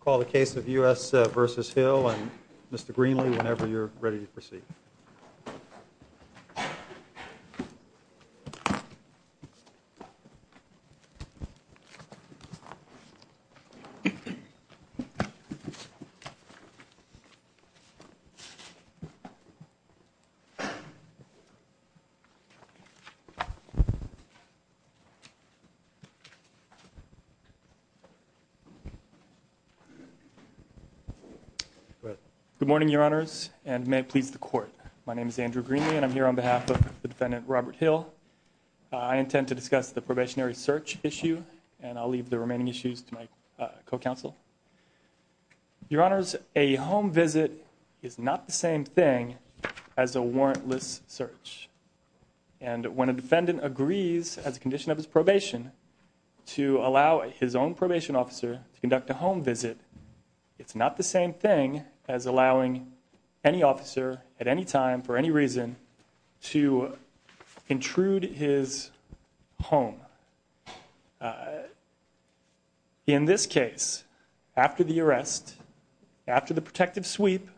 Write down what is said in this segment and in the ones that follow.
Call the case of U.S. v. Hill and Mr. Greenlee whenever you're ready to proceed. Good morning, your honors, and may it please the court. My name is Andrew Greenlee, and I'm here on behalf of the defendant, Robert Hill. I intend to discuss the probationary search issue, and I'll leave the remaining issues to my co-counsel. Your honors, a home condition of his probation to allow his own probation officer to conduct a home visit. It's not the same thing as allowing any officer at any time for any reason to intrude his home. In this case, after the arrest, after the protective sweep,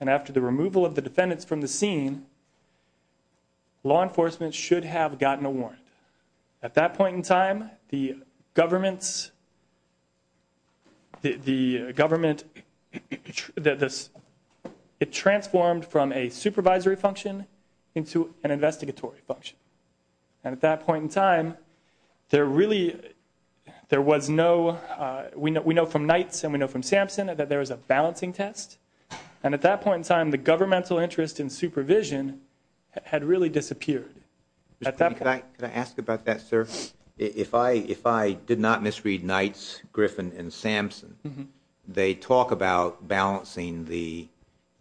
and after the removal of the defendants from the scene, law enforcement should have gotten a warrant. At that point in time, the government's, the government, it transformed from a supervisory function into an investigatory function. And at that point in time, there really, there was no, we know from Knights and we know from Sampson that there was a balancing test, and at that point in time, the governmental interest in supervision had really disappeared. At that point. Could I ask about that, sir? If I did not misread Knights, Griffin, and Sampson, they talk about balancing the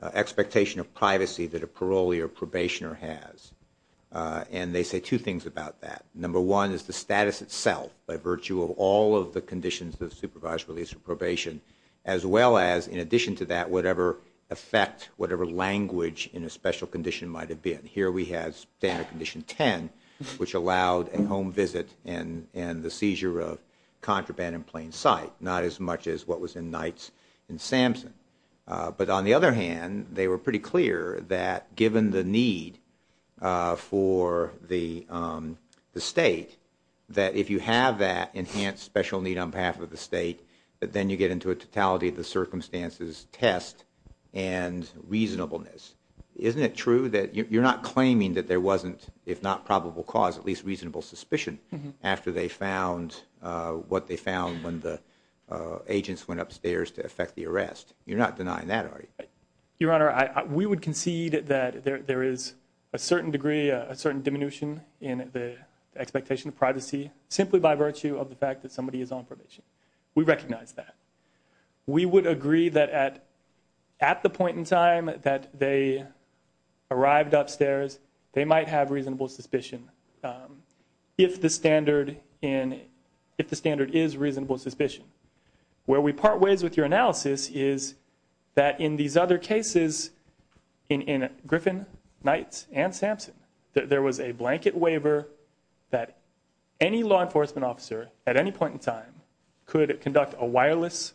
expectation of privacy that a parolee or probationer has, and they say two things about that. Number one is the status itself, by virtue of all of the conditions of supervised release or probation, as well as, in addition to that, whatever effect, whatever language in a special condition might have been. Here we have standard condition 10, which allowed a home visit and the seizure of contraband in plain sight, not as much as what was in Knights and Sampson. But on the other hand, they were pretty clear that given the need for the state, that if you have that enhanced special need on behalf of the state, that then you get into a totality of the circumstances test and reasonableness. Isn't it true that you're not claiming that there wasn't, if not probable cause, at least reasonable suspicion after they found what they found when the agents went upstairs to effect the arrest? You're not denying that, are you? Your Honor, we would concede that there is a certain degree, a certain diminution in the expectation of privacy, simply by virtue of the fact that somebody is on probation. We recognize that. We would agree that at the point in time that they arrived upstairs, they might have reasonable suspicion, if the standard is reasonable suspicion. Where we part ways with your analysis is that in these other cases, in Griffin, Knights, and Sampson, there was a blanket waiver that any law enforcement officer at any point in time could conduct a warrantless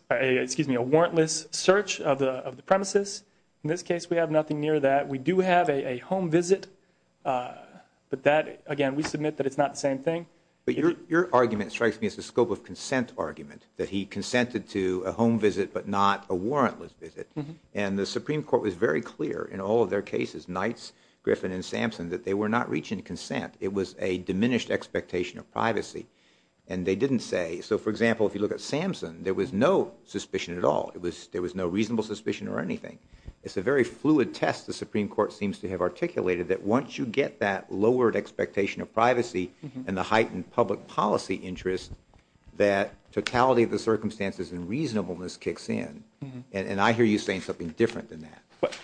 search of the premises. In this case, we have nothing near that. We do have a home visit, but that, again, we submit that it's not the same thing. Your argument strikes me as the scope of consent argument, that he consented to a home visit but not a warrantless visit. And the Supreme Court was very clear in all of their cases, Knights, Griffin, and Sampson, that they were not reaching consent. It was a diminished expectation of privacy. And they didn't say, so for example, if you look at Sampson, there was no suspicion at all. There was no reasonable suspicion or anything. It's a very fluid test the Supreme Court seems to have articulated that once you get that lowered expectation of privacy and the heightened public policy interest, that totality of the circumstances and reasonableness kicks in. And I hear you saying something different than that. But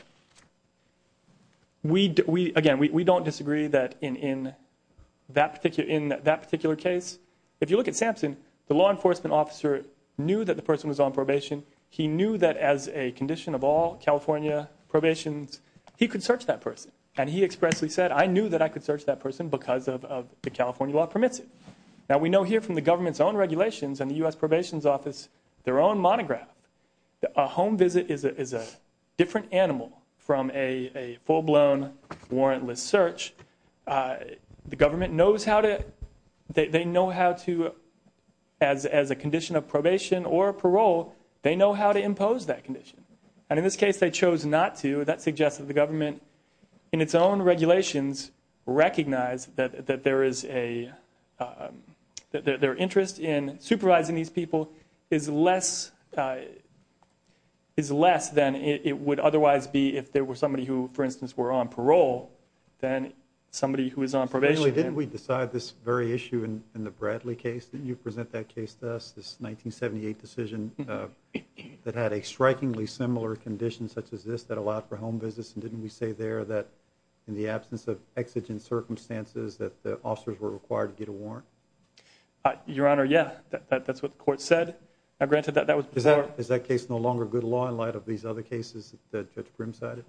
we, again, we don't disagree that in that particular case, if you look at Sampson, the law enforcement officer knew that the person was on probation. He knew that as a condition of all California probations, he could search that person. And he expressly said, I knew that I could search that person because the California law permits it. Now, we know here from the government's own regulations and the U.S. Probation Office, their own monograph, that a home visit is a different animal from a full-blown warrantless search. The government knows how to, they know how to, as a condition of probation or parole, they know how to impose that condition. And in this case, they chose not to. That suggests that the government in its own regulations recognized that there is a, that their interest in supervising these people is less, is less than it would otherwise be if there were somebody who, for instance, were on parole than somebody who is on probation. Didn't we decide this very issue in the Bradley case? Didn't you present that case to us, this 1978 decision that had a strikingly similar condition such as this that allowed for home visits? And didn't we say there that in the absence of exigent circumstances that the officers were required to get a warrant? Your Honor, yeah. That's what the court said. Now, granted that that was before Is that case no longer good law in light of these other cases that Judge Grimm cited?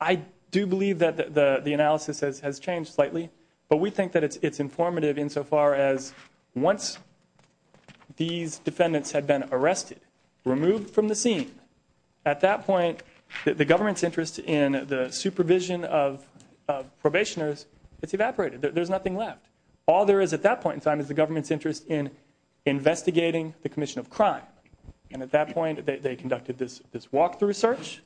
I do believe that the analysis has changed slightly, but we think that it's informative insofar as once these defendants had been arrested, removed from the scene, at that point, the government's interest in the supervision of probationers, it's evaporated. There's at that point in time is the government's interest in investigating the commission of crime. And at that point, they conducted this walkthrough search.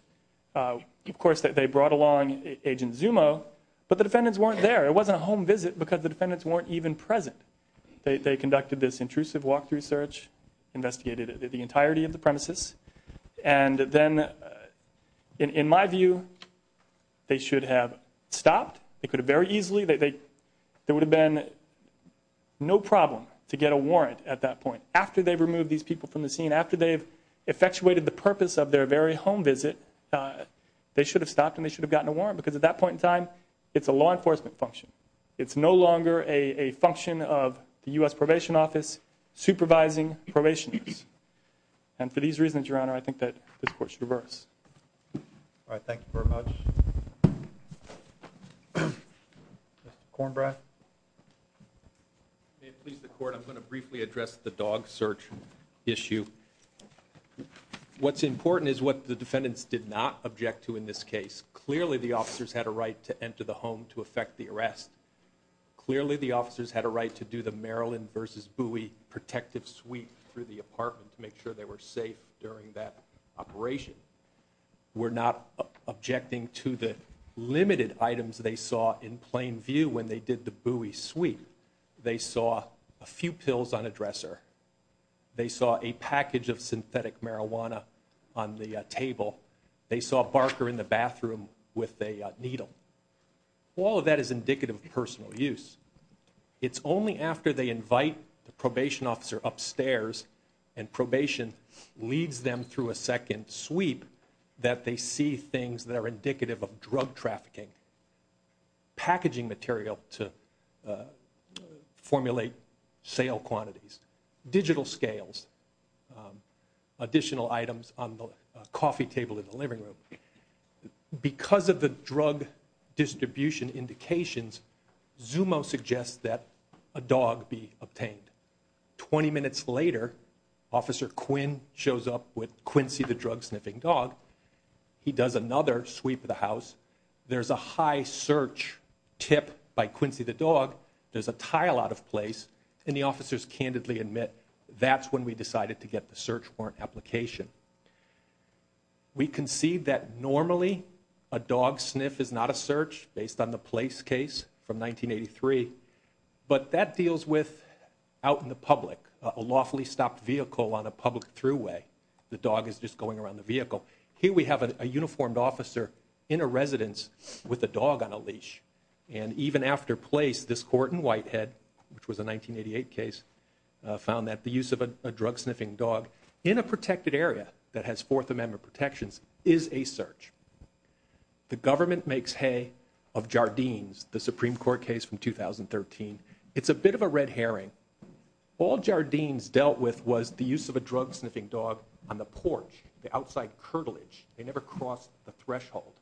Of course, they brought along Agent Zumo, but the defendants weren't there. It wasn't a home visit because the defendants weren't even present. They conducted this intrusive walkthrough search, investigated the entirety of the premises. And then, in my view, they should have stopped. They could have been no problem to get a warrant at that point. After they've removed these people from the scene, after they've effectuated the purpose of their very home visit, they should have stopped and they should have gotten a warrant because at that point in time, it's a law enforcement function. It's no longer a function of the U.S. Probation Office supervising probationers. And for these reasons, Your Honor, I think that this court should reverse. All right. Thank you very much. Mr. Kornbrath? May it please the Court, I'm going to briefly address the dog search issue. What's important is what the defendants did not object to in this case. Clearly, the officers had a right to enter the home to effect the arrest. Clearly, the officers had a right to do the Maryland versus Bowie protective sweep through the apartment to make sure they were safe during that operation. We're not objecting to the limited items they saw in plain view when they did the Bowie sweep. They saw a few pills on a dresser. They saw a package of synthetic marijuana on the table. They saw a barker in the bathroom with a needle. All of that is indicative of personal use. It's only after they invite the probation officer upstairs and probation leads them through a second sweep that they see things that are indicative of drug trafficking. Packaging material to formulate sale quantities. Digital scales. Additional items on the coffee table in the living room. Because of the drug distribution indications, Zumo suggests that a dog be obtained. Twenty minutes later, Officer Quinn shows up with Quincy the drug sniffing dog. He does another sweep of the house. There's a high search tip by Quincy the dog. There's a tile out of place and the officers candidly admit that's when we decided to get the search warrant application. We concede that normally a dog sniff is not a search based on the place case from 1983, but that deals with out in the public, a lawfully stopped vehicle on a public throughway. The dog is just going around the vehicle. Here we have a uniformed officer in a residence with a dog on a leash. Even after place, this court in Whitehead, which was a 1988 case, found that the use of a drug sniffing dog in a protected area that has 4th Amendment protections is a search. The government makes hay of Jardines, the Supreme Court case from 2013. It's a bit of a red herring. All Jardines dealt with was the use of a drug sniffing dog on the porch, the outside curtilage. They never crossed the threshold.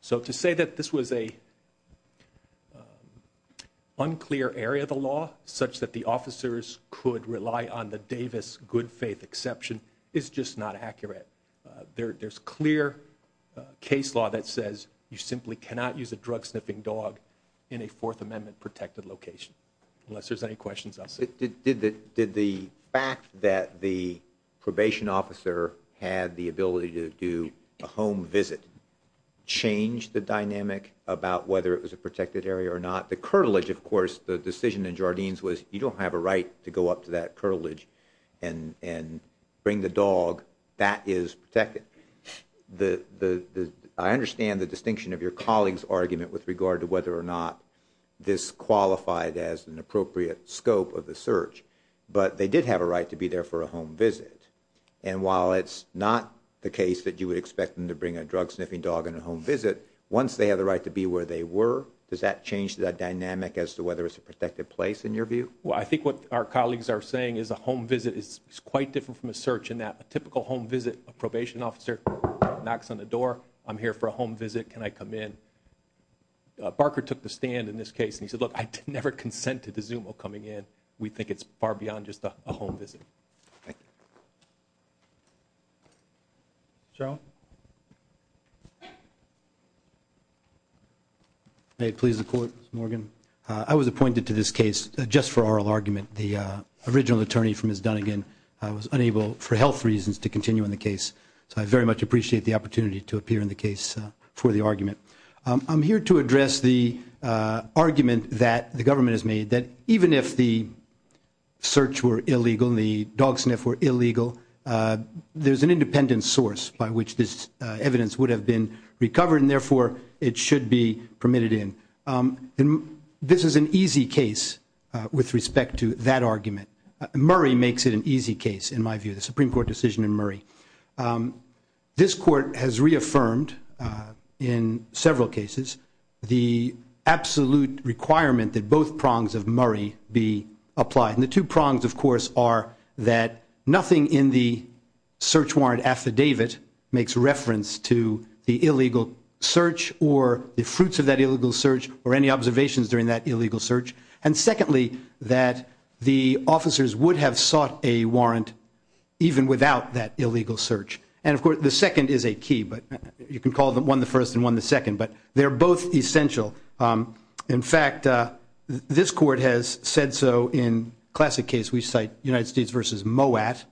So to say that this was a unclear area of the law such that the officers could rely on the Davis good faith exception is just not accurate. There's clear case law that says you simply cannot use a drug sniffing dog in a 4th Amendment protected location. Unless there's any questions, I'll say. Did the fact that the probation officer had the ability to do a home visit change the decision in Jardines was you don't have a right to go up to that curtilage and bring the dog that is protected? I understand the distinction of your colleague's argument with regard to whether or not this qualified as an appropriate scope of the search. But they did have a right to be there for a home visit. And while it's not the case that you would expect them to bring a drug sniffing dog on a home visit, once they have the right to be where they were, does that change the dynamic as to whether it's a protected place in your view? Well, I think what our colleagues are saying is a home visit is quite different from a search in that a typical home visit, a probation officer knocks on the door. I'm here for a home visit. Can I come in? Barker took the stand in this case. And he said, look, I never consented to Zuma coming in. We think it's far beyond just a home visit. Thank you. Cheryl? May it please the Court, Mr. Morgan? I was appointed to this case just for oral argument. The original attorney from Miss Dunnigan was unable, for health reasons, to continue on the case. So I very much appreciate the opportunity to appear in the case for the argument. I'm here to address the argument that the government has made that even if the search were illegal and the dog sniff were illegal, there's an independent source by which this evidence would have been recovered. And therefore, it should be permitted in. This is an easy case with respect to that argument. Murray makes it an easy case, in my view, the Supreme Court decision in Murray. This Court has reaffirmed in several cases the absolute requirement that both prongs of Murray be applied. And the two prongs, of course, are that nothing in the search warrant affidavit makes reference to the illegal search or the fruits of that illegal search or any observations during that illegal search. And secondly, that the officers would have sought a warrant even without that illegal search. And of course, the second is a key. But you can call them one the first and one the second. But they're both essential. In fact, this Court has said so in classic case. We cite United States versus Moat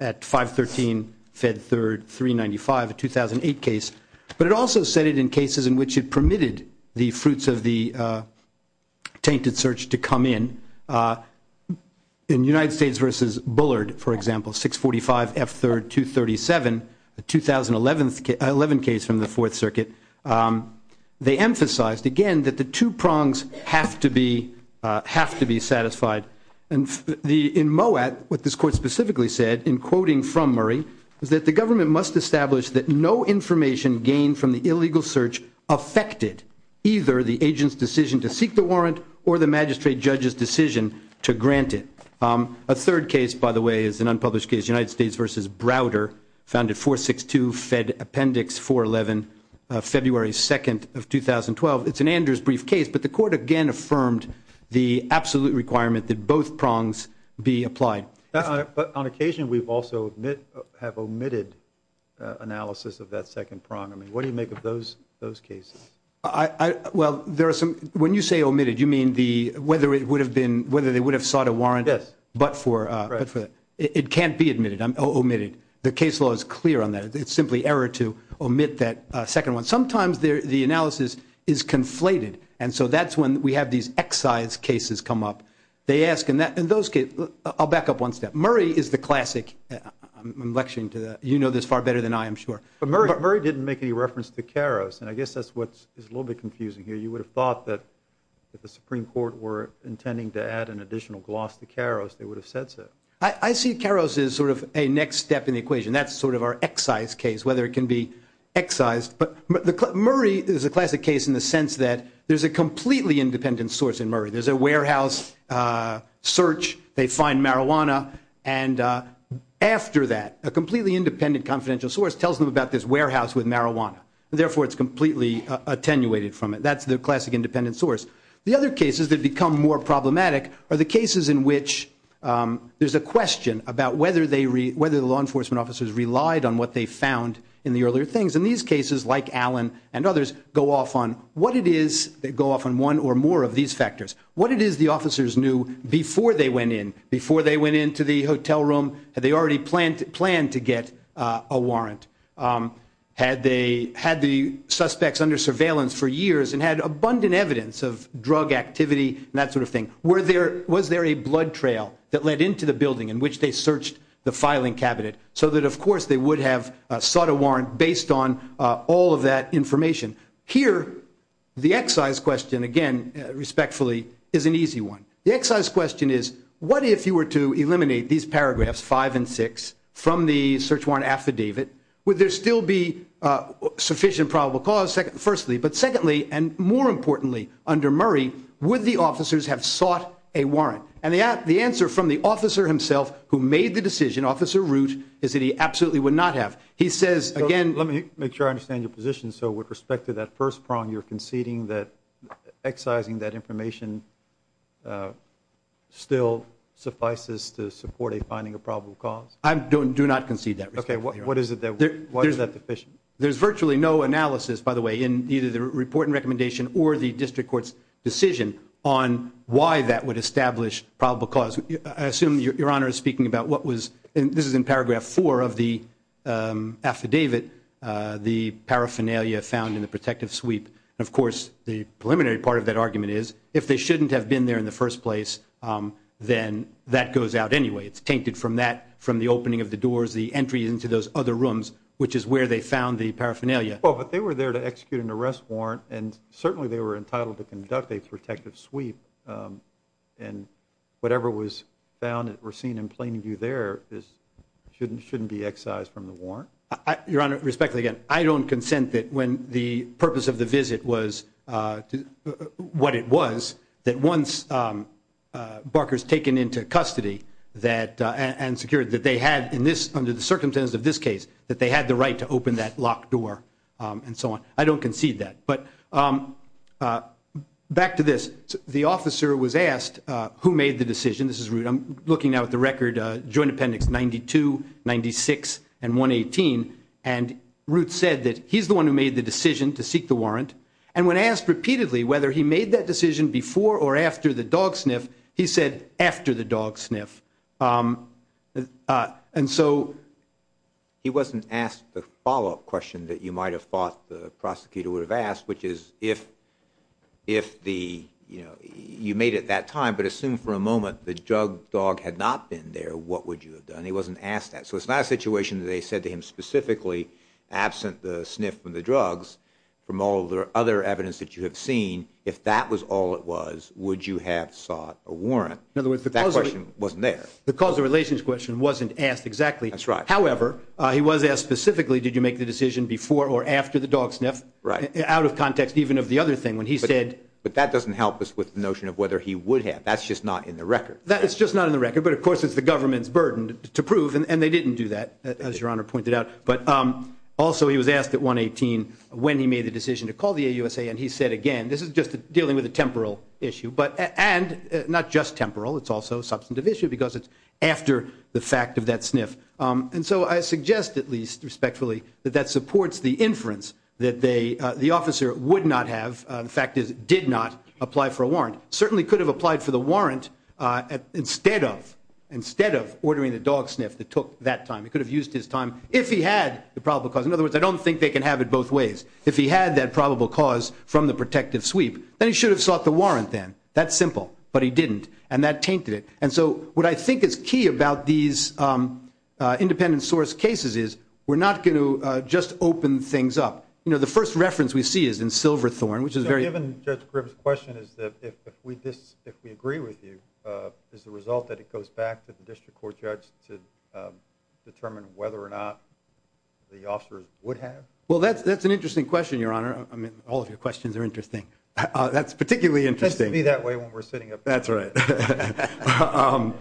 at 513 Fed Third 395, a 2008 case. But it also said it in cases in which it permitted the fruits of the tainted search to come in. In United States versus Bullard, for example, 645 F Third 237, a 2011 case from the Fourth Circuit. They emphasized, again, that the two prongs have to be satisfied. And in Moat, what this Court specifically said in quoting from Murray is that the government must establish that no information gained from the illegal search affected either the agent's decision to seek the warrant or the magistrate judge's versus Browder, found at 462 Fed Appendix 411, February 2nd of 2012. It's an Andrews brief case. But the Court again affirmed the absolute requirement that both prongs be applied. But on occasion, we've also have omitted analysis of that second prong. I mean, what do you make of those cases? Well, when you say omitted, you mean whether they would have sought a warrant but for it. It can't be omitted. The case law is clear on that. It's simply error to omit that second one. Sometimes the analysis is conflated. And so that's when we have these excise cases come up. They ask in those cases, I'll back up one step. Murray is the classic, I'm lecturing to the, you know this far better than I am sure. But Murray didn't make any reference to Karos. And I guess that's what is a little bit confusing here. You would have thought that if the Supreme Court were intending to add an additional gloss to Karos, they would have said so. I see Karos as sort of a next step in the equation. That's sort of our excise case, whether it can be excised. But Murray is a classic case in the sense that there's a completely independent source in Murray. There's a warehouse search. They find marijuana. And after that, a completely independent confidential source tells them about this warehouse with marijuana. And therefore, it's completely attenuated from it. That's the classic independent source. The other cases that become more problematic are the cases in which there's a question about whether the law enforcement officers relied on what they found in the earlier things. And these cases, like Allen and others, go off on what it is, they go off on one or more of these factors. What it is the officers knew before they went in, before they went into the hotel room. Had they already planned to get a warrant? Had the suspects under surveillance for years and had abundant evidence of drug activity and that sort of thing? Was there a blood trail that led into the building in which they searched the filing cabinet so that, of course, they would have sought a warrant based on all of that information? Here, the excise question, again, respectfully, is an easy one. The excise question is, what if you were to eliminate these paragraphs five and six from the search warrant affidavit? Would there still be sufficient probable cause, firstly? But secondly, and more importantly, under Murray, would the officers have sought a warrant? And the answer from the officer himself who made the decision, Officer Root, is that he absolutely would not have. He says, again... Let me make sure I understand your position. So with respect to that first prong, you're conceding that excising that information still suffices to support a finding of probable cause? I do not concede that. Okay, what is it then? Why is that deficient? There's virtually no analysis, by the way, in either the report and recommendation or the district court's decision on why that would establish probable cause. I assume Your Honor is speaking about what was... This is in paragraph four of the affidavit, the paraphernalia found in the protective sweep. Of course, the preliminary part of that argument is, if they shouldn't have been there in the first place, then that goes out anyway. It's tainted from the opening of the doors, the entry into those other rooms, which is where they found the paraphernalia. Well, but they were there to execute an arrest warrant, and certainly they were entitled to conduct a protective sweep. And whatever was found or seen in plain view there shouldn't be excised from the warrant? Your Honor, respectfully, again, I don't consent that when the purpose of the visit was... And secured that they had, under the circumstances of this case, that they had the right to open that locked door and so on. I don't concede that. But back to this. The officer was asked who made the decision. This is Root. I'm looking now at the record, Joint Appendix 92, 96, and 118. And Root said that he's the one who made the decision to seek the warrant. And when asked repeatedly whether he made that And so he wasn't asked the follow-up question that you might have thought the prosecutor would have asked, which is, if you made it that time, but assume for a moment the drug dog had not been there, what would you have done? He wasn't asked that. So it's not a situation that they said to him specifically, absent the sniff from the drugs, from all the other evidence that you have seen, if that was all it was, would you have sought a warrant? In other words, the cause of... That question wasn't there. The cause of relation question wasn't asked exactly. That's right. However, he was asked specifically, did you make the decision before or after the dog sniff, out of context even of the other thing, when he said... But that doesn't help us with the notion of whether he would have. That's just not in the record. That's just not in the record. But of course, it's the government's burden to prove. And they didn't do that, as Your Honor pointed out. But also, he was asked at 118 when he made the decision to call the AUSA. And he said, again, this is just dealing with a temporal issue. And not just temporal, it's also a substantive issue, because it's after the fact of that sniff. And so I suggest, at least respectfully, that that supports the inference that the officer would not have... The fact is, did not apply for a warrant. Certainly could have applied for the warrant instead of ordering the dog sniff that took that time. He could have used his time if he had the probable cause. In other words, I don't think they can have it both ways. If he had that probable cause from the protective sweep, then he should have sought the warrant then. That's simple. But he didn't. And that tainted it. And so what I think is key about these independent source cases is, we're not going to just open things up. The first reference we see is in Silverthorne, which is very... Given Judge Gribb's question, is that if we agree with you, is the result that it goes back to the district court judge to determine whether or not the officers would have? Well, that's an interesting question, Your Honor. I mean, all of your questions are interesting. That's particularly interesting. It tends to be that way when we're sitting up here. That's right.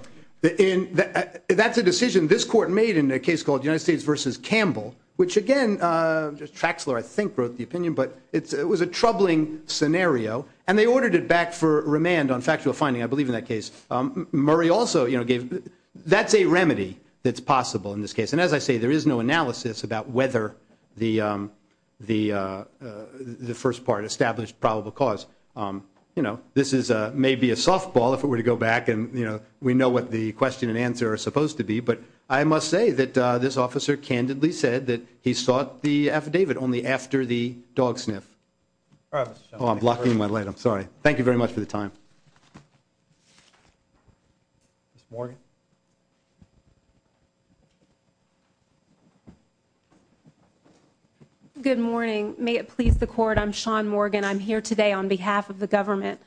That's a decision this court made in a case called United States v. Campbell, which again, Traxler, I think, wrote the opinion, but it was a troubling scenario. And they ordered it back for remand on factual finding, I believe, in that case. Murray also gave... That's a remedy that's possible in this case. And as I say, there is no analysis about whether the first part established probable cause. This may be a softball if it were to go back and we know what the question and answer are supposed to be. But I must say that this officer candidly said that he sought the affidavit only after the dog sniff. All right, Mr. Chairman. Oh, I'm blocking my light. I'm sorry. Thank you very much for the time. Ms. Morgan? Good morning. May it please the court, I'm Shawn Morgan. I'm here today on behalf of the government.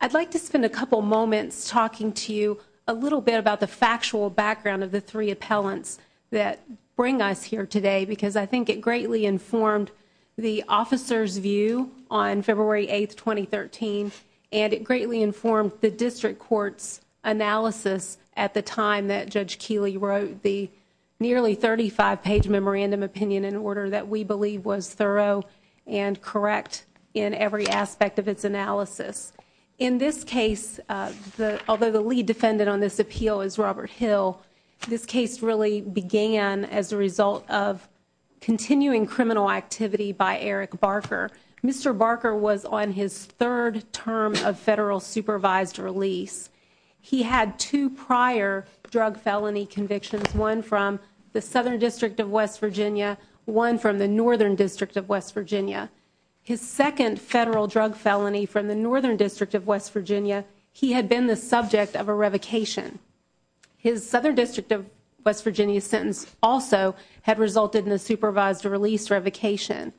I'd like to spend a couple moments talking to you a little bit about the factual background of the three appellants that bring us here today because I think it 2013, and it greatly informed the district court's analysis at the time that Judge Keeley wrote the nearly 35-page memorandum opinion in order that we believe was thorough and correct in every aspect of its analysis. In this case, although the lead defendant on this appeal is Robert Hill, this case really began as a result of continuing criminal activity by Eric Barker. Mr. Barker was on his third term of federal supervised release. He had two prior drug felony convictions, one from the Southern District of West Virginia, one from the Northern District of West Virginia. His second federal drug felony from the Northern District of West Virginia, he had been the subject of a revocation. His Southern District of West Virginia sentence also had resulted in a supervised release revocation.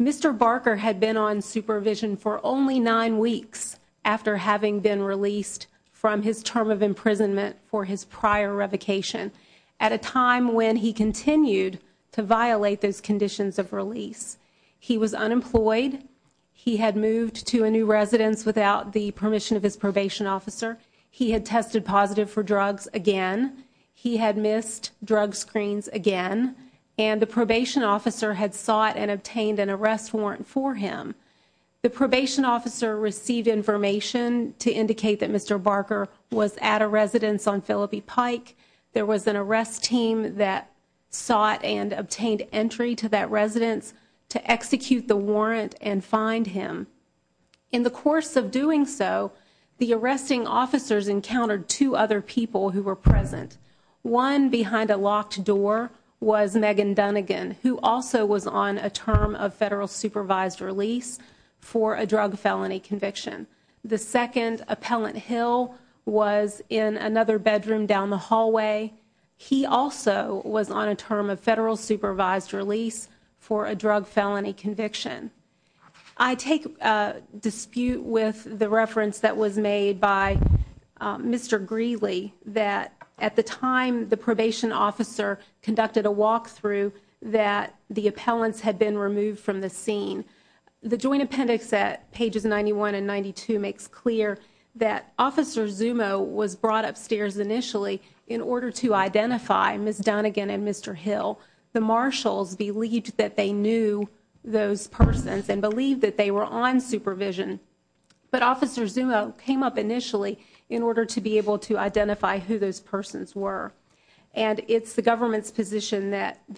Mr. Barker had been on supervision for only nine weeks after having been released from his term of imprisonment for his prior revocation at a time when he continued to violate those conditions of release. He was unemployed. He had moved to a new residence without the permission of his probation officer. He had tested positive for drugs again. He had missed drug screens again. And the probation officer had sought and obtained an arrest warrant for him. The probation officer received information to indicate that Mr. Barker was at a residence on Phillippe Pike. There was an arrest team that sought and obtained entry to that residence to execute the warrant and find him. In the course of doing so, the arresting officers encountered two other people who were present. One behind a locked door was Megan Dunnigan, who also was on a term of federal supervised release for a drug felony conviction. The second, Appellant Hill, was in another bedroom down the hallway. He also was on a term of drug felony conviction. I take dispute with the reference that was made by Mr. Greeley that at the time the probation officer conducted a walkthrough that the appellants had been removed from the scene. The Joint Appendix at pages 91 and 92 makes clear that Officer Zumo was brought upstairs initially in order to identify Ms. Dunnigan and Mr. Hill. The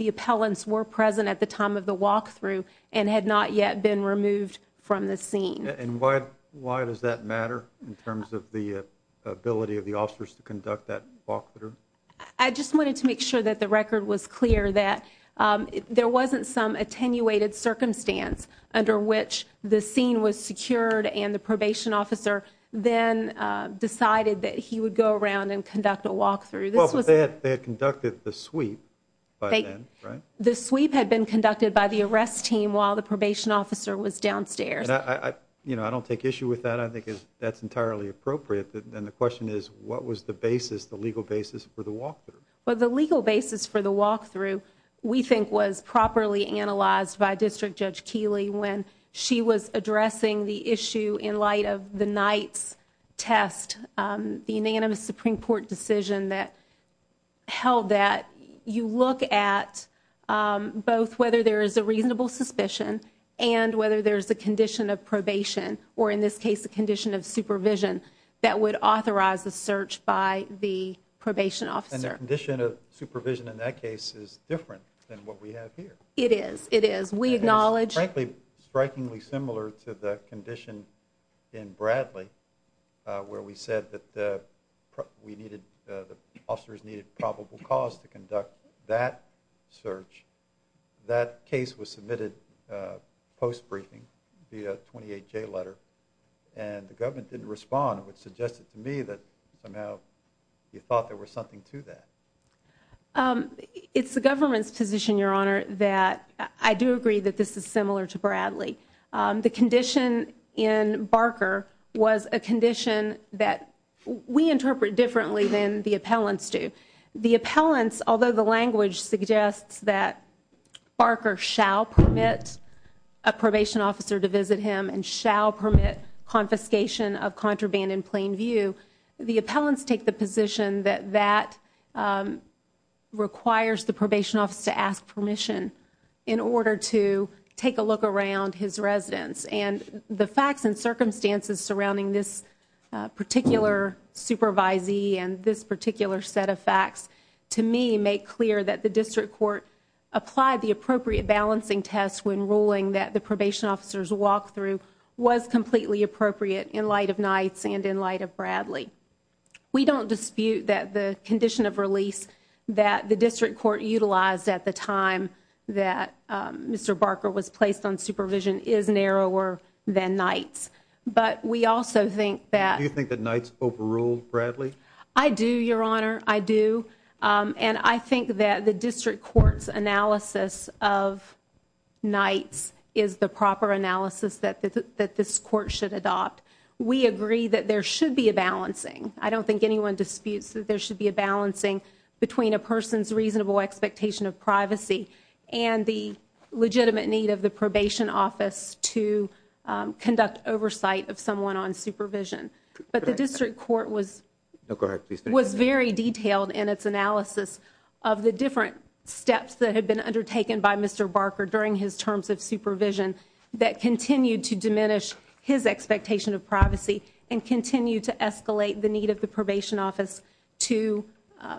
appellants were present at the time of the walkthrough and had not yet been removed from the scene. I just wanted to make sure that the record was clear that there wasn't some attenuated circumstance under which the scene was secured and the probation officer then decided that he would go around and conduct a walkthrough. They had conducted the sweep by then, right? The sweep had been conducted by the arrest team while the probation officer was downstairs. I don't take issue with that. I think that's entirely appropriate. The question is what was the legal basis for the walkthrough? The legal basis for the walkthrough we think was properly analyzed by District Judge Keeley when she was addressing the issue in light of the Knight's test, the unanimous Supreme Court decision that held that you look at both whether there is a reasonable suspicion and whether there is a condition of probation or in this case a condition of supervision that would authorize the search by the probation officer. And the condition of supervision in that case is different than what we have here. It is. It is. We acknowledge. It is frankly strikingly similar to the condition in Bradley where we said that the officers needed probable cause to conduct that search. That case was submitted post-briefing via a 28-J letter and the government didn't respond which suggested to me that somehow you thought there was something to that. It's the government's position, Your Honor, that I do agree that this is similar to Bradley. The condition in Barker was a condition that we interpret differently than the appellants do. The appellants, although the language suggests that Barker shall permit a probation officer to visit him and shall permit confiscation of contraband in plain view, the appellants take the position that that requires the probation officer to ask permission in order to take a look around his residence. And the facts and circumstances surrounding this particular supervisee and this particular set of facts, to me, make clear that the district court applied the probation officer's walkthrough was completely appropriate in light of Nights and in light of Bradley. We don't dispute that the condition of release that the district court utilized at the time that Mr. Barker was placed on supervision is narrower than Nights. But we also think that Do you think that Nights overruled Bradley? I do, Your Honor. I do. And I think that the district court's analysis of Nights is the proper analysis that this court should adopt. We agree that there should be a balancing. I don't think anyone disputes that there should be a balancing between a person's reasonable expectation of privacy and the legitimate need of the probation office to conduct oversight of someone on supervision. But the district court was very detailed in its analysis of the different steps that had been undertaken by Mr. Barker during his terms of supervision that continued to diminish his expectation of privacy and continued to escalate the need of the probation office to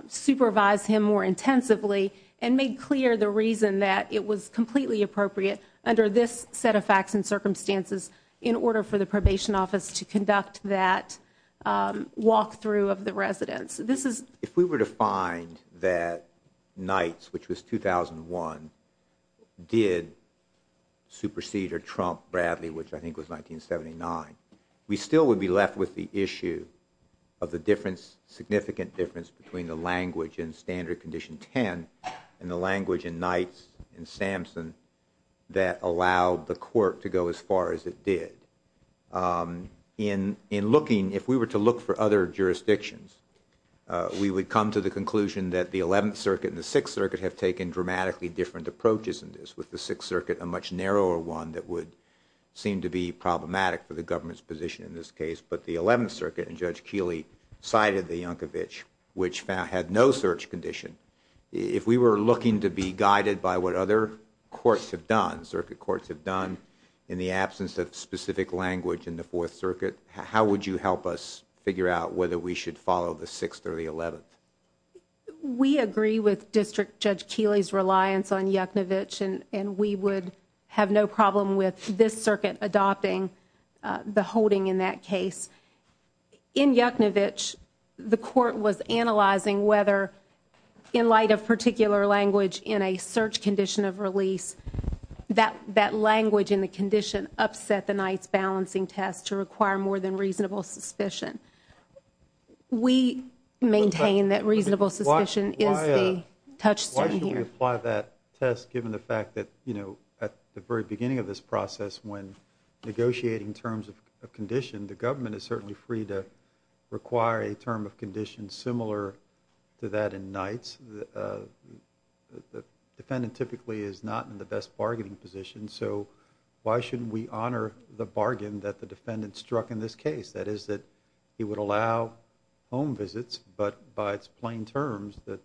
supervise him more intensively and made clear the reason that it was completely appropriate under this set of facts and circumstances in order for the probation office to conduct that walkthrough of the residence. If we were to find that Nights, which was 2001, did supersede or trump Bradley, which I think was 1979, we still would be left with the issue of the significant difference between the language in Standard Condition 10 and the language in Nights and Samson that allowed the court to go as far as it did. In looking, if we were to look for other jurisdictions, we would come to the conclusion that the 11th Circuit and the 6th Circuit have taken dramatically different approaches in this, with the 6th Circuit a much narrower one that would seem to be problematic for the government's position in this case. But the 11th Circuit, and Judge Keeley cited the Yankovitch, which had no search condition. If we were looking to be guided by what other courts have done, circuit courts have done, in the absence of specific language in the 4th Circuit, how would you help us figure out whether we should follow the 6th or the 11th? We agree with District Judge Keeley's reliance on Yankovitch, and we would have no problem with this circuit adopting the holding in that case. In Yankovitch, the court was analyzing whether, in light of particular language in a search condition of release, that language in the condition upset the Knight's balancing test to require more than reasonable suspicion. We maintain that reasonable suspicion is the touchstone here. Why should we apply that test, given the fact that, you know, at the very beginning of this process, when negotiating terms of condition, the government is certainly free to require a term of condition similar to that in Knight's. The defendant typically is not in the best bargaining position, so why shouldn't we honor the bargain that the defendant struck in this case? That is, that he would allow home visits, but by its plain terms, the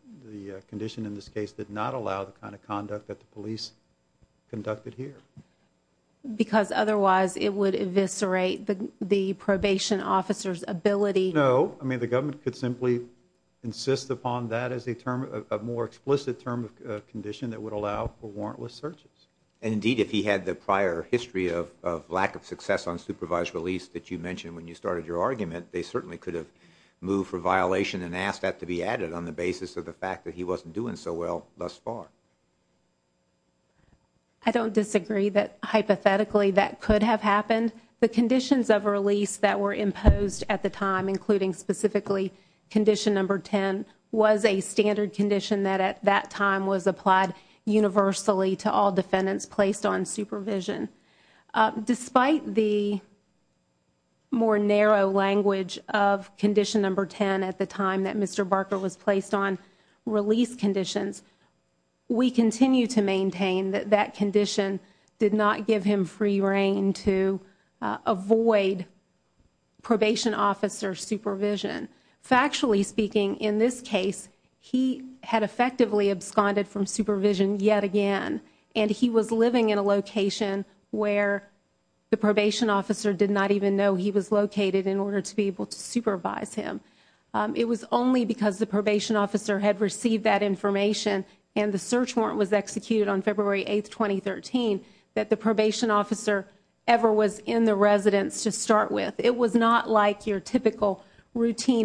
condition in this case did not allow the kind of conduct that the police conducted here. Because otherwise, it would eviscerate the probation officer's ability. No. I mean, the government could simply insist upon that as a more explicit term of condition that would allow for warrantless searches. Indeed, if he had the prior history of lack of success on supervised release that you mentioned when you started your argument, they certainly could have moved for violation and asked that to be added on the basis of the fact that he wasn't doing so well thus far. I don't disagree that, hypothetically, that could have happened. The conditions of release that were imposed at the time, including specifically condition number 10, was a standard condition that at that time was applied universally to all defendants placed on supervision. Despite the more narrow language of condition number 10 at the time that Mr. Barker was placed on release conditions, we continue to maintain that that condition did not give him free reign to avoid probation officer supervision. Factually speaking, in this case, he had effectively absconded from supervision yet again, and he was living in a location where the probation officer did not even know he was located in order to be able to supervise him. It was only because the probation officer had received that information and the search warrant was executed on February 8, 2013, that the probation officer ever was in the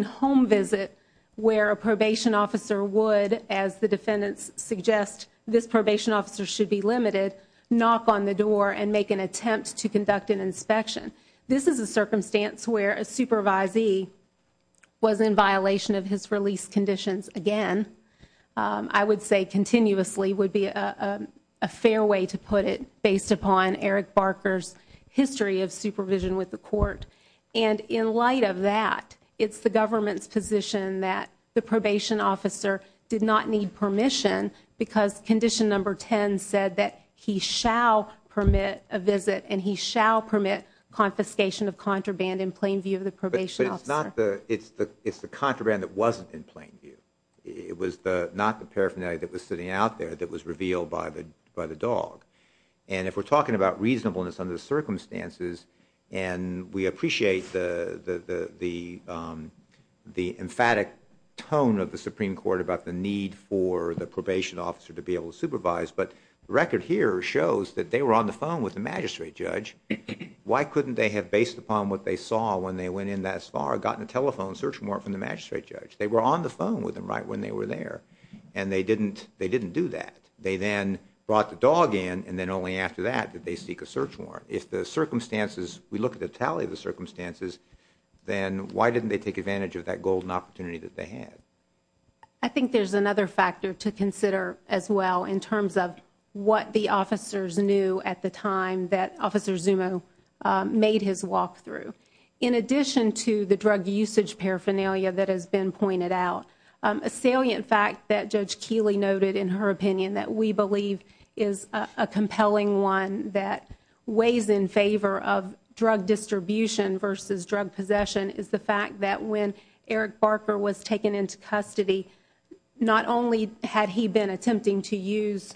home visit where a probation officer would, as the defendants suggest, this probation officer should be limited, knock on the door and make an attempt to conduct an inspection. This is a circumstance where a supervisee was in violation of his release conditions again. I would say continuously would be a fair way to put it based upon Eric Barker's history of supervision with the court. In light of that, it's the government's position that the probation officer did not need permission because condition number 10 said that he shall permit a visit and he shall permit confiscation of contraband in plain view of the probation officer. It's the contraband that wasn't in plain view. It was not the paraphernalia that was sitting out there that was revealed by the dog. If we're talking about reasonableness under the circumstances, and we appreciate the emphatic tone of the Supreme Court about the need for the probation officer to be able to supervise, but the record here shows that they were on the phone with the magistrate judge. Why couldn't they have, based upon what they saw when they went in that far, gotten a telephone search warrant from the magistrate judge? They were on the phone with him right when they were there and they didn't do that. They then brought the dog in and then only after that did they seek a search warrant. If the circumstances, we look at the tally of the circumstances, then why didn't they take advantage of that golden opportunity that they had? I think there's another factor to consider as well in terms of what the officers knew at the time that Officer Zumo made his walkthrough. In addition to the drug usage paraphernalia that has been pointed out, a salient fact that Judge Keeley noted in her opinion that we believe is a compelling one that weighs in favor of drug distribution versus drug possession is the fact that when Eric Barker was taken into custody, not only had he been attempting to use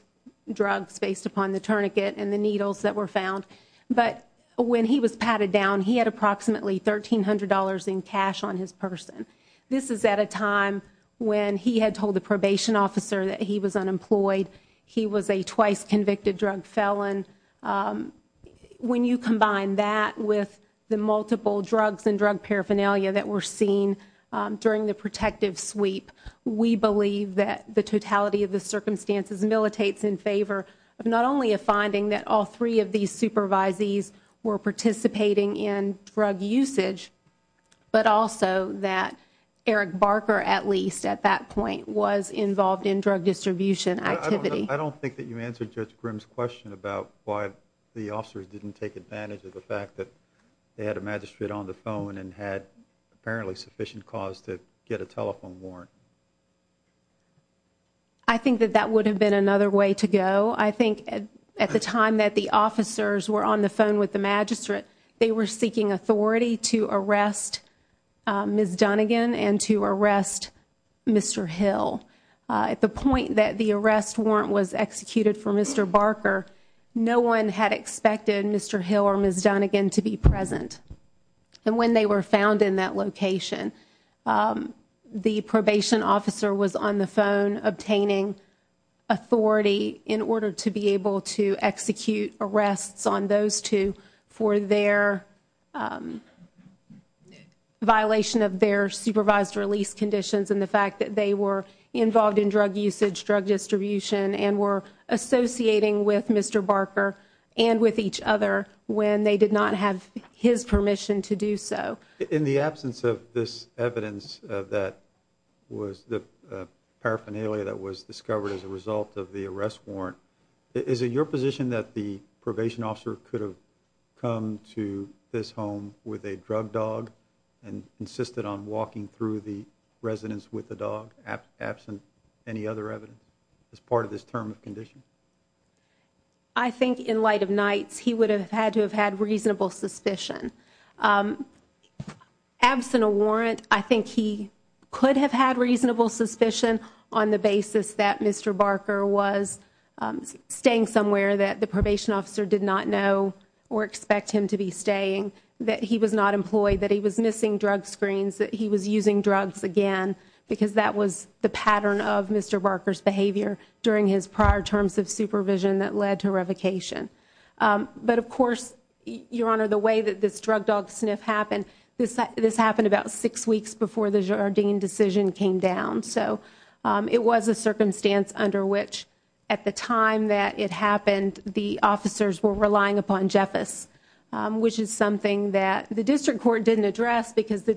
drugs based upon the tourniquet and the needles that were found, but when he was patted down, he had approximately $1,300 in cash on his person. This is at a time when he had told the probation officer that he was unemployed. He was a twice convicted drug felon. When you combine that with the multiple drugs and drug paraphernalia that were seen during the protective sweep, we believe that the totality of the circumstances militates in favor of not only a finding that all three of these supervisees were participating in drug usage, but also that Eric Barker at least at that point was involved in drug distribution activity. I don't think that you answered Judge Grimm's question about why the officers didn't take advantage of the fact that they had a magistrate on the phone and had apparently sufficient cause to get a telephone warrant. I think that that would have been another way to go. I think at the time that the officers were on the phone with the magistrate, they were seeking authority to arrest Ms. Dunnegan and to arrest Mr. Hill. At the point that the arrest warrant was executed for Mr. Barker, no one had expected Mr. Hill or Ms. Dunnegan to be present. When they were found in that location, the probation officer was on the phone obtaining authority in order to be able to execute arrests on those two for their violation of their supervised release conditions and the fact that they were involved in drug usage, drug distribution and were associating with Mr. Barker and with each other when they did not have his permission to do so. In the absence of this evidence that was the paraphernalia that was discovered as a result of the arrest warrant, is it your position that the probation officer could have come to this home with a drug dog and insisted on walking through the residence with the dog absent any other evidence as part of this term of condition? I think in light of nights, he would have had to have had reasonable suspicion. Absent a warrant, I think he could have had reasonable suspicion on the basis that Mr. Barker was staying somewhere that the probation officer did not know or expect him to be staying, that he was not employed, that he was missing drug screens, that he was using drugs again because that was the pattern of Mr. Barker's behavior during his prior terms of supervision that led to revocation. But of course, Your Honor, the way that this drug dog sniff happened, this happened about six weeks before the Jardine decision came down. So it was a circumstance under which at the time that it happened, the officers were relying upon Jeffess, which is something that the district court didn't address because the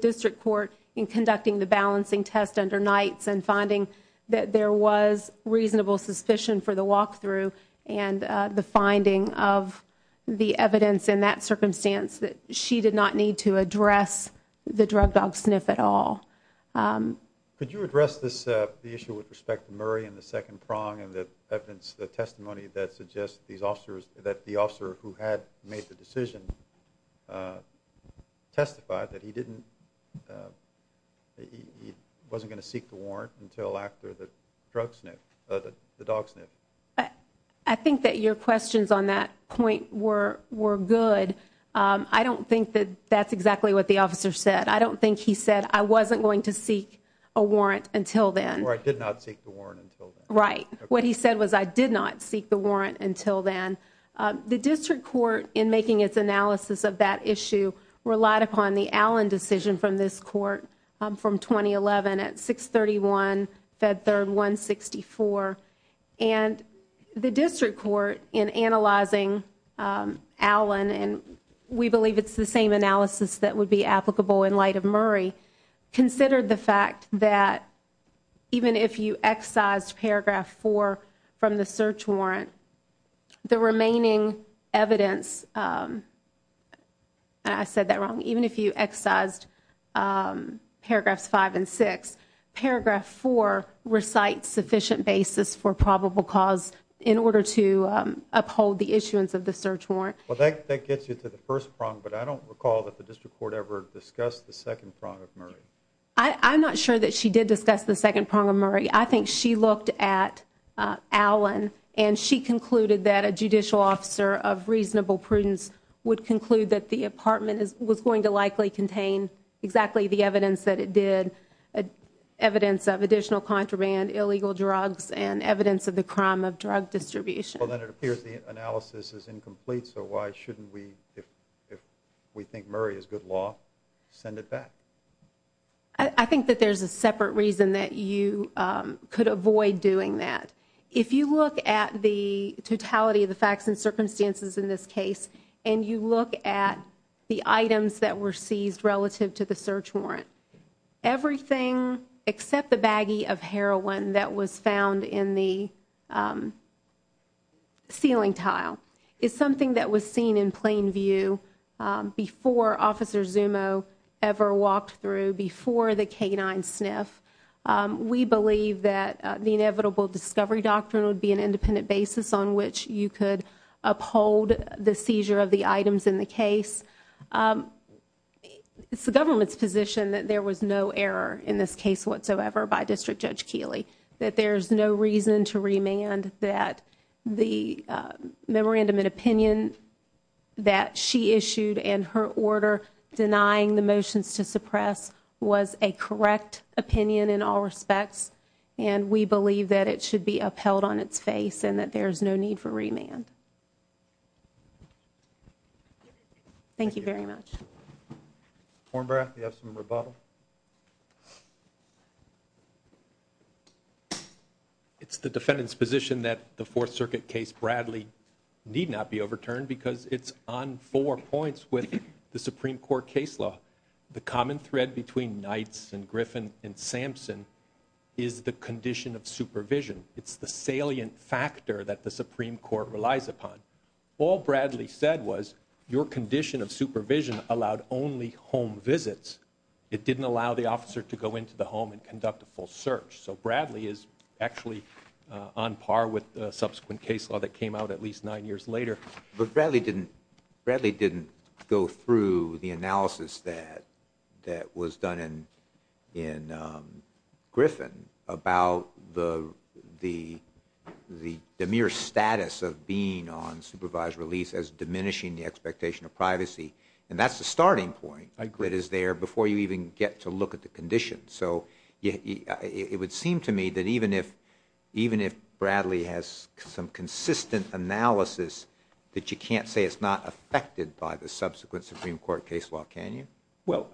test under nights and finding that there was reasonable suspicion for the walkthrough and the finding of the evidence in that circumstance that she did not need to address the drug dog sniff at all. Could you address this, the issue with respect to Murray and the second prong and the evidence, the testimony that suggests these officers, that the officer who had made the decision testified that he didn't, he wasn't going to seek the warrant until after the drug sniff, the dog sniff. I think that your questions on that point were good. I don't think that that's exactly what the officer said. I don't think he said, I wasn't going to seek a warrant until then. Or I did not seek the warrant until then. Right. What he said was, I did not seek the warrant until then. The district court in making its analysis of that issue relied upon the Allen decision from this court from 2011 at 631 Fed Third 164 and the district court in analyzing Allen and we believe it's the same analysis that would be applicable in light of Murray, considered the fact that even if you excise paragraph four from the search warrant, the remainder of the remaining evidence, and I said that wrong, even if you excised paragraphs five and six, paragraph four recites sufficient basis for probable cause in order to uphold the issuance of the search warrant. Well, that gets you to the first prong, but I don't recall that the district court ever discussed the second prong of Murray. I'm not sure that she did discuss the second prong of Murray. I think she looked at Allen and she concluded that a judicial officer of reasonable prudence would conclude that the apartment was going to likely contain exactly the evidence that it did, evidence of additional contraband, illegal drugs, and evidence of the crime of drug distribution. Well, then it appears the analysis is incomplete, so why shouldn't we, if we think Murray is good law, send it back? I think that there's a separate reason that you could avoid doing that. If you look at the totality of the facts and circumstances in this case and you look at the items that were seized relative to the search warrant, everything except the baggie of heroin that was found in the ceiling tile is something that was seen in plain view before Officer Zumo ever walked through, before the canine sniff. We believe that the inevitable discovery doctrine would be an independent basis on which you could uphold the seizure of the items in the case. It's the government's position that there was no error in this case whatsoever by District Judge Keeley, that there's no reason to remand that the memorandum of opinion that she issued and her order denying the motions to suppress was a correct opinion in all respects, and we believe that it should be upheld on its face and that there's no need for remand. Thank you very much. Warren Burr, do you have some rebuttal? It's the defendant's position that the Fourth Circuit case Bradley need not be overturned because it's on four points with the Supreme Court case law. The common thread between Knights and Griffin and Sampson is the condition of supervision. It's the salient factor that the Supreme Court relies upon. All Bradley said was, your condition of supervision allowed only home visits. It didn't allow the officer to go into the home and conduct a full search, so Bradley is actually on par with the subsequent case law that came out at least nine years later. But Bradley didn't go through the analysis that was done in Griffin about the mere status of being on supervised release as diminishing the expectation of privacy, and that's the starting point that is there before you even get to look at the condition. So it would seem to me that even if Bradley has some consistent analysis of the condition that you can't say it's not affected by the subsequent Supreme Court case law, can you? Well,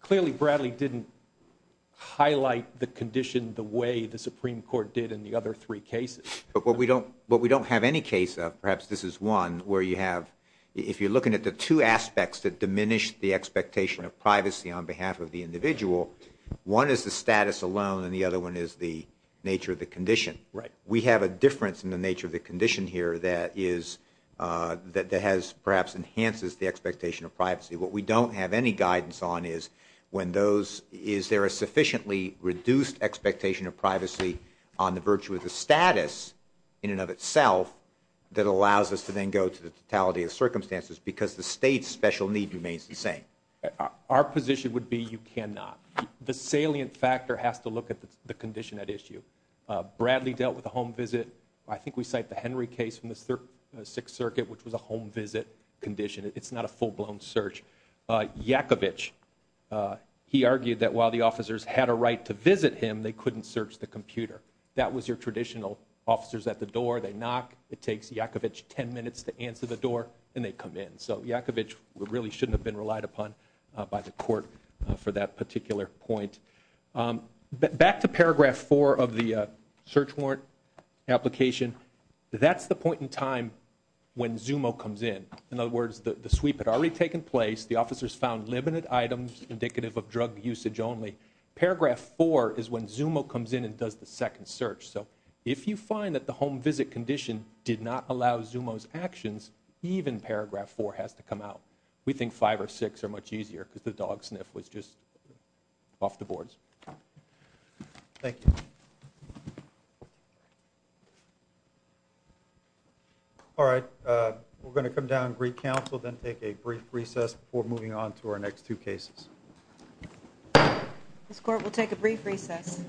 clearly Bradley didn't highlight the condition the way the Supreme Court did in the other three cases. But what we don't have any case of, perhaps this is one, where you have, if you're looking at the two aspects that diminish the expectation of privacy on behalf of the individual, one is the status alone and the other one is the nature of the condition. We have a difference in the nature of the condition here that is, that has perhaps enhances the expectation of privacy. What we don't have any guidance on is when those, is there a sufficiently reduced expectation of privacy on the virtue of the status in and of itself that allows us to then go to the totality of circumstances because the state's special need remains the same. Our position would be you cannot. The salient factor has to look at the condition at issue. Bradley dealt with a home visit. I think we cite the Henry case from the Sixth Circuit, which was a home visit condition. It's not a full-blown search. Yakovitch, he argued that while the officers had a right to visit him, they couldn't search the computer. That was your traditional, officers at the door, they knock, it takes Yakovitch 10 minutes to answer the door, and they come in. So Yakovitch really shouldn't have been relied upon by the court for that particular point. Back to paragraph four of the search warrant application, that's the point in time when ZUMO comes in. In other words, the sweep had already taken place. The officers found limited items indicative of drug usage only. Paragraph four is when ZUMO comes in and does the second search. So if you find that the home visit condition did not allow ZUMO's actions, even paragraph four has to come out. We think five or six are much easier, because the dog sniff was just off the boards. Thank you. All right, we're going to come down and greet counsel, then take a brief recess before moving on to our next two cases. This court will take a brief recess.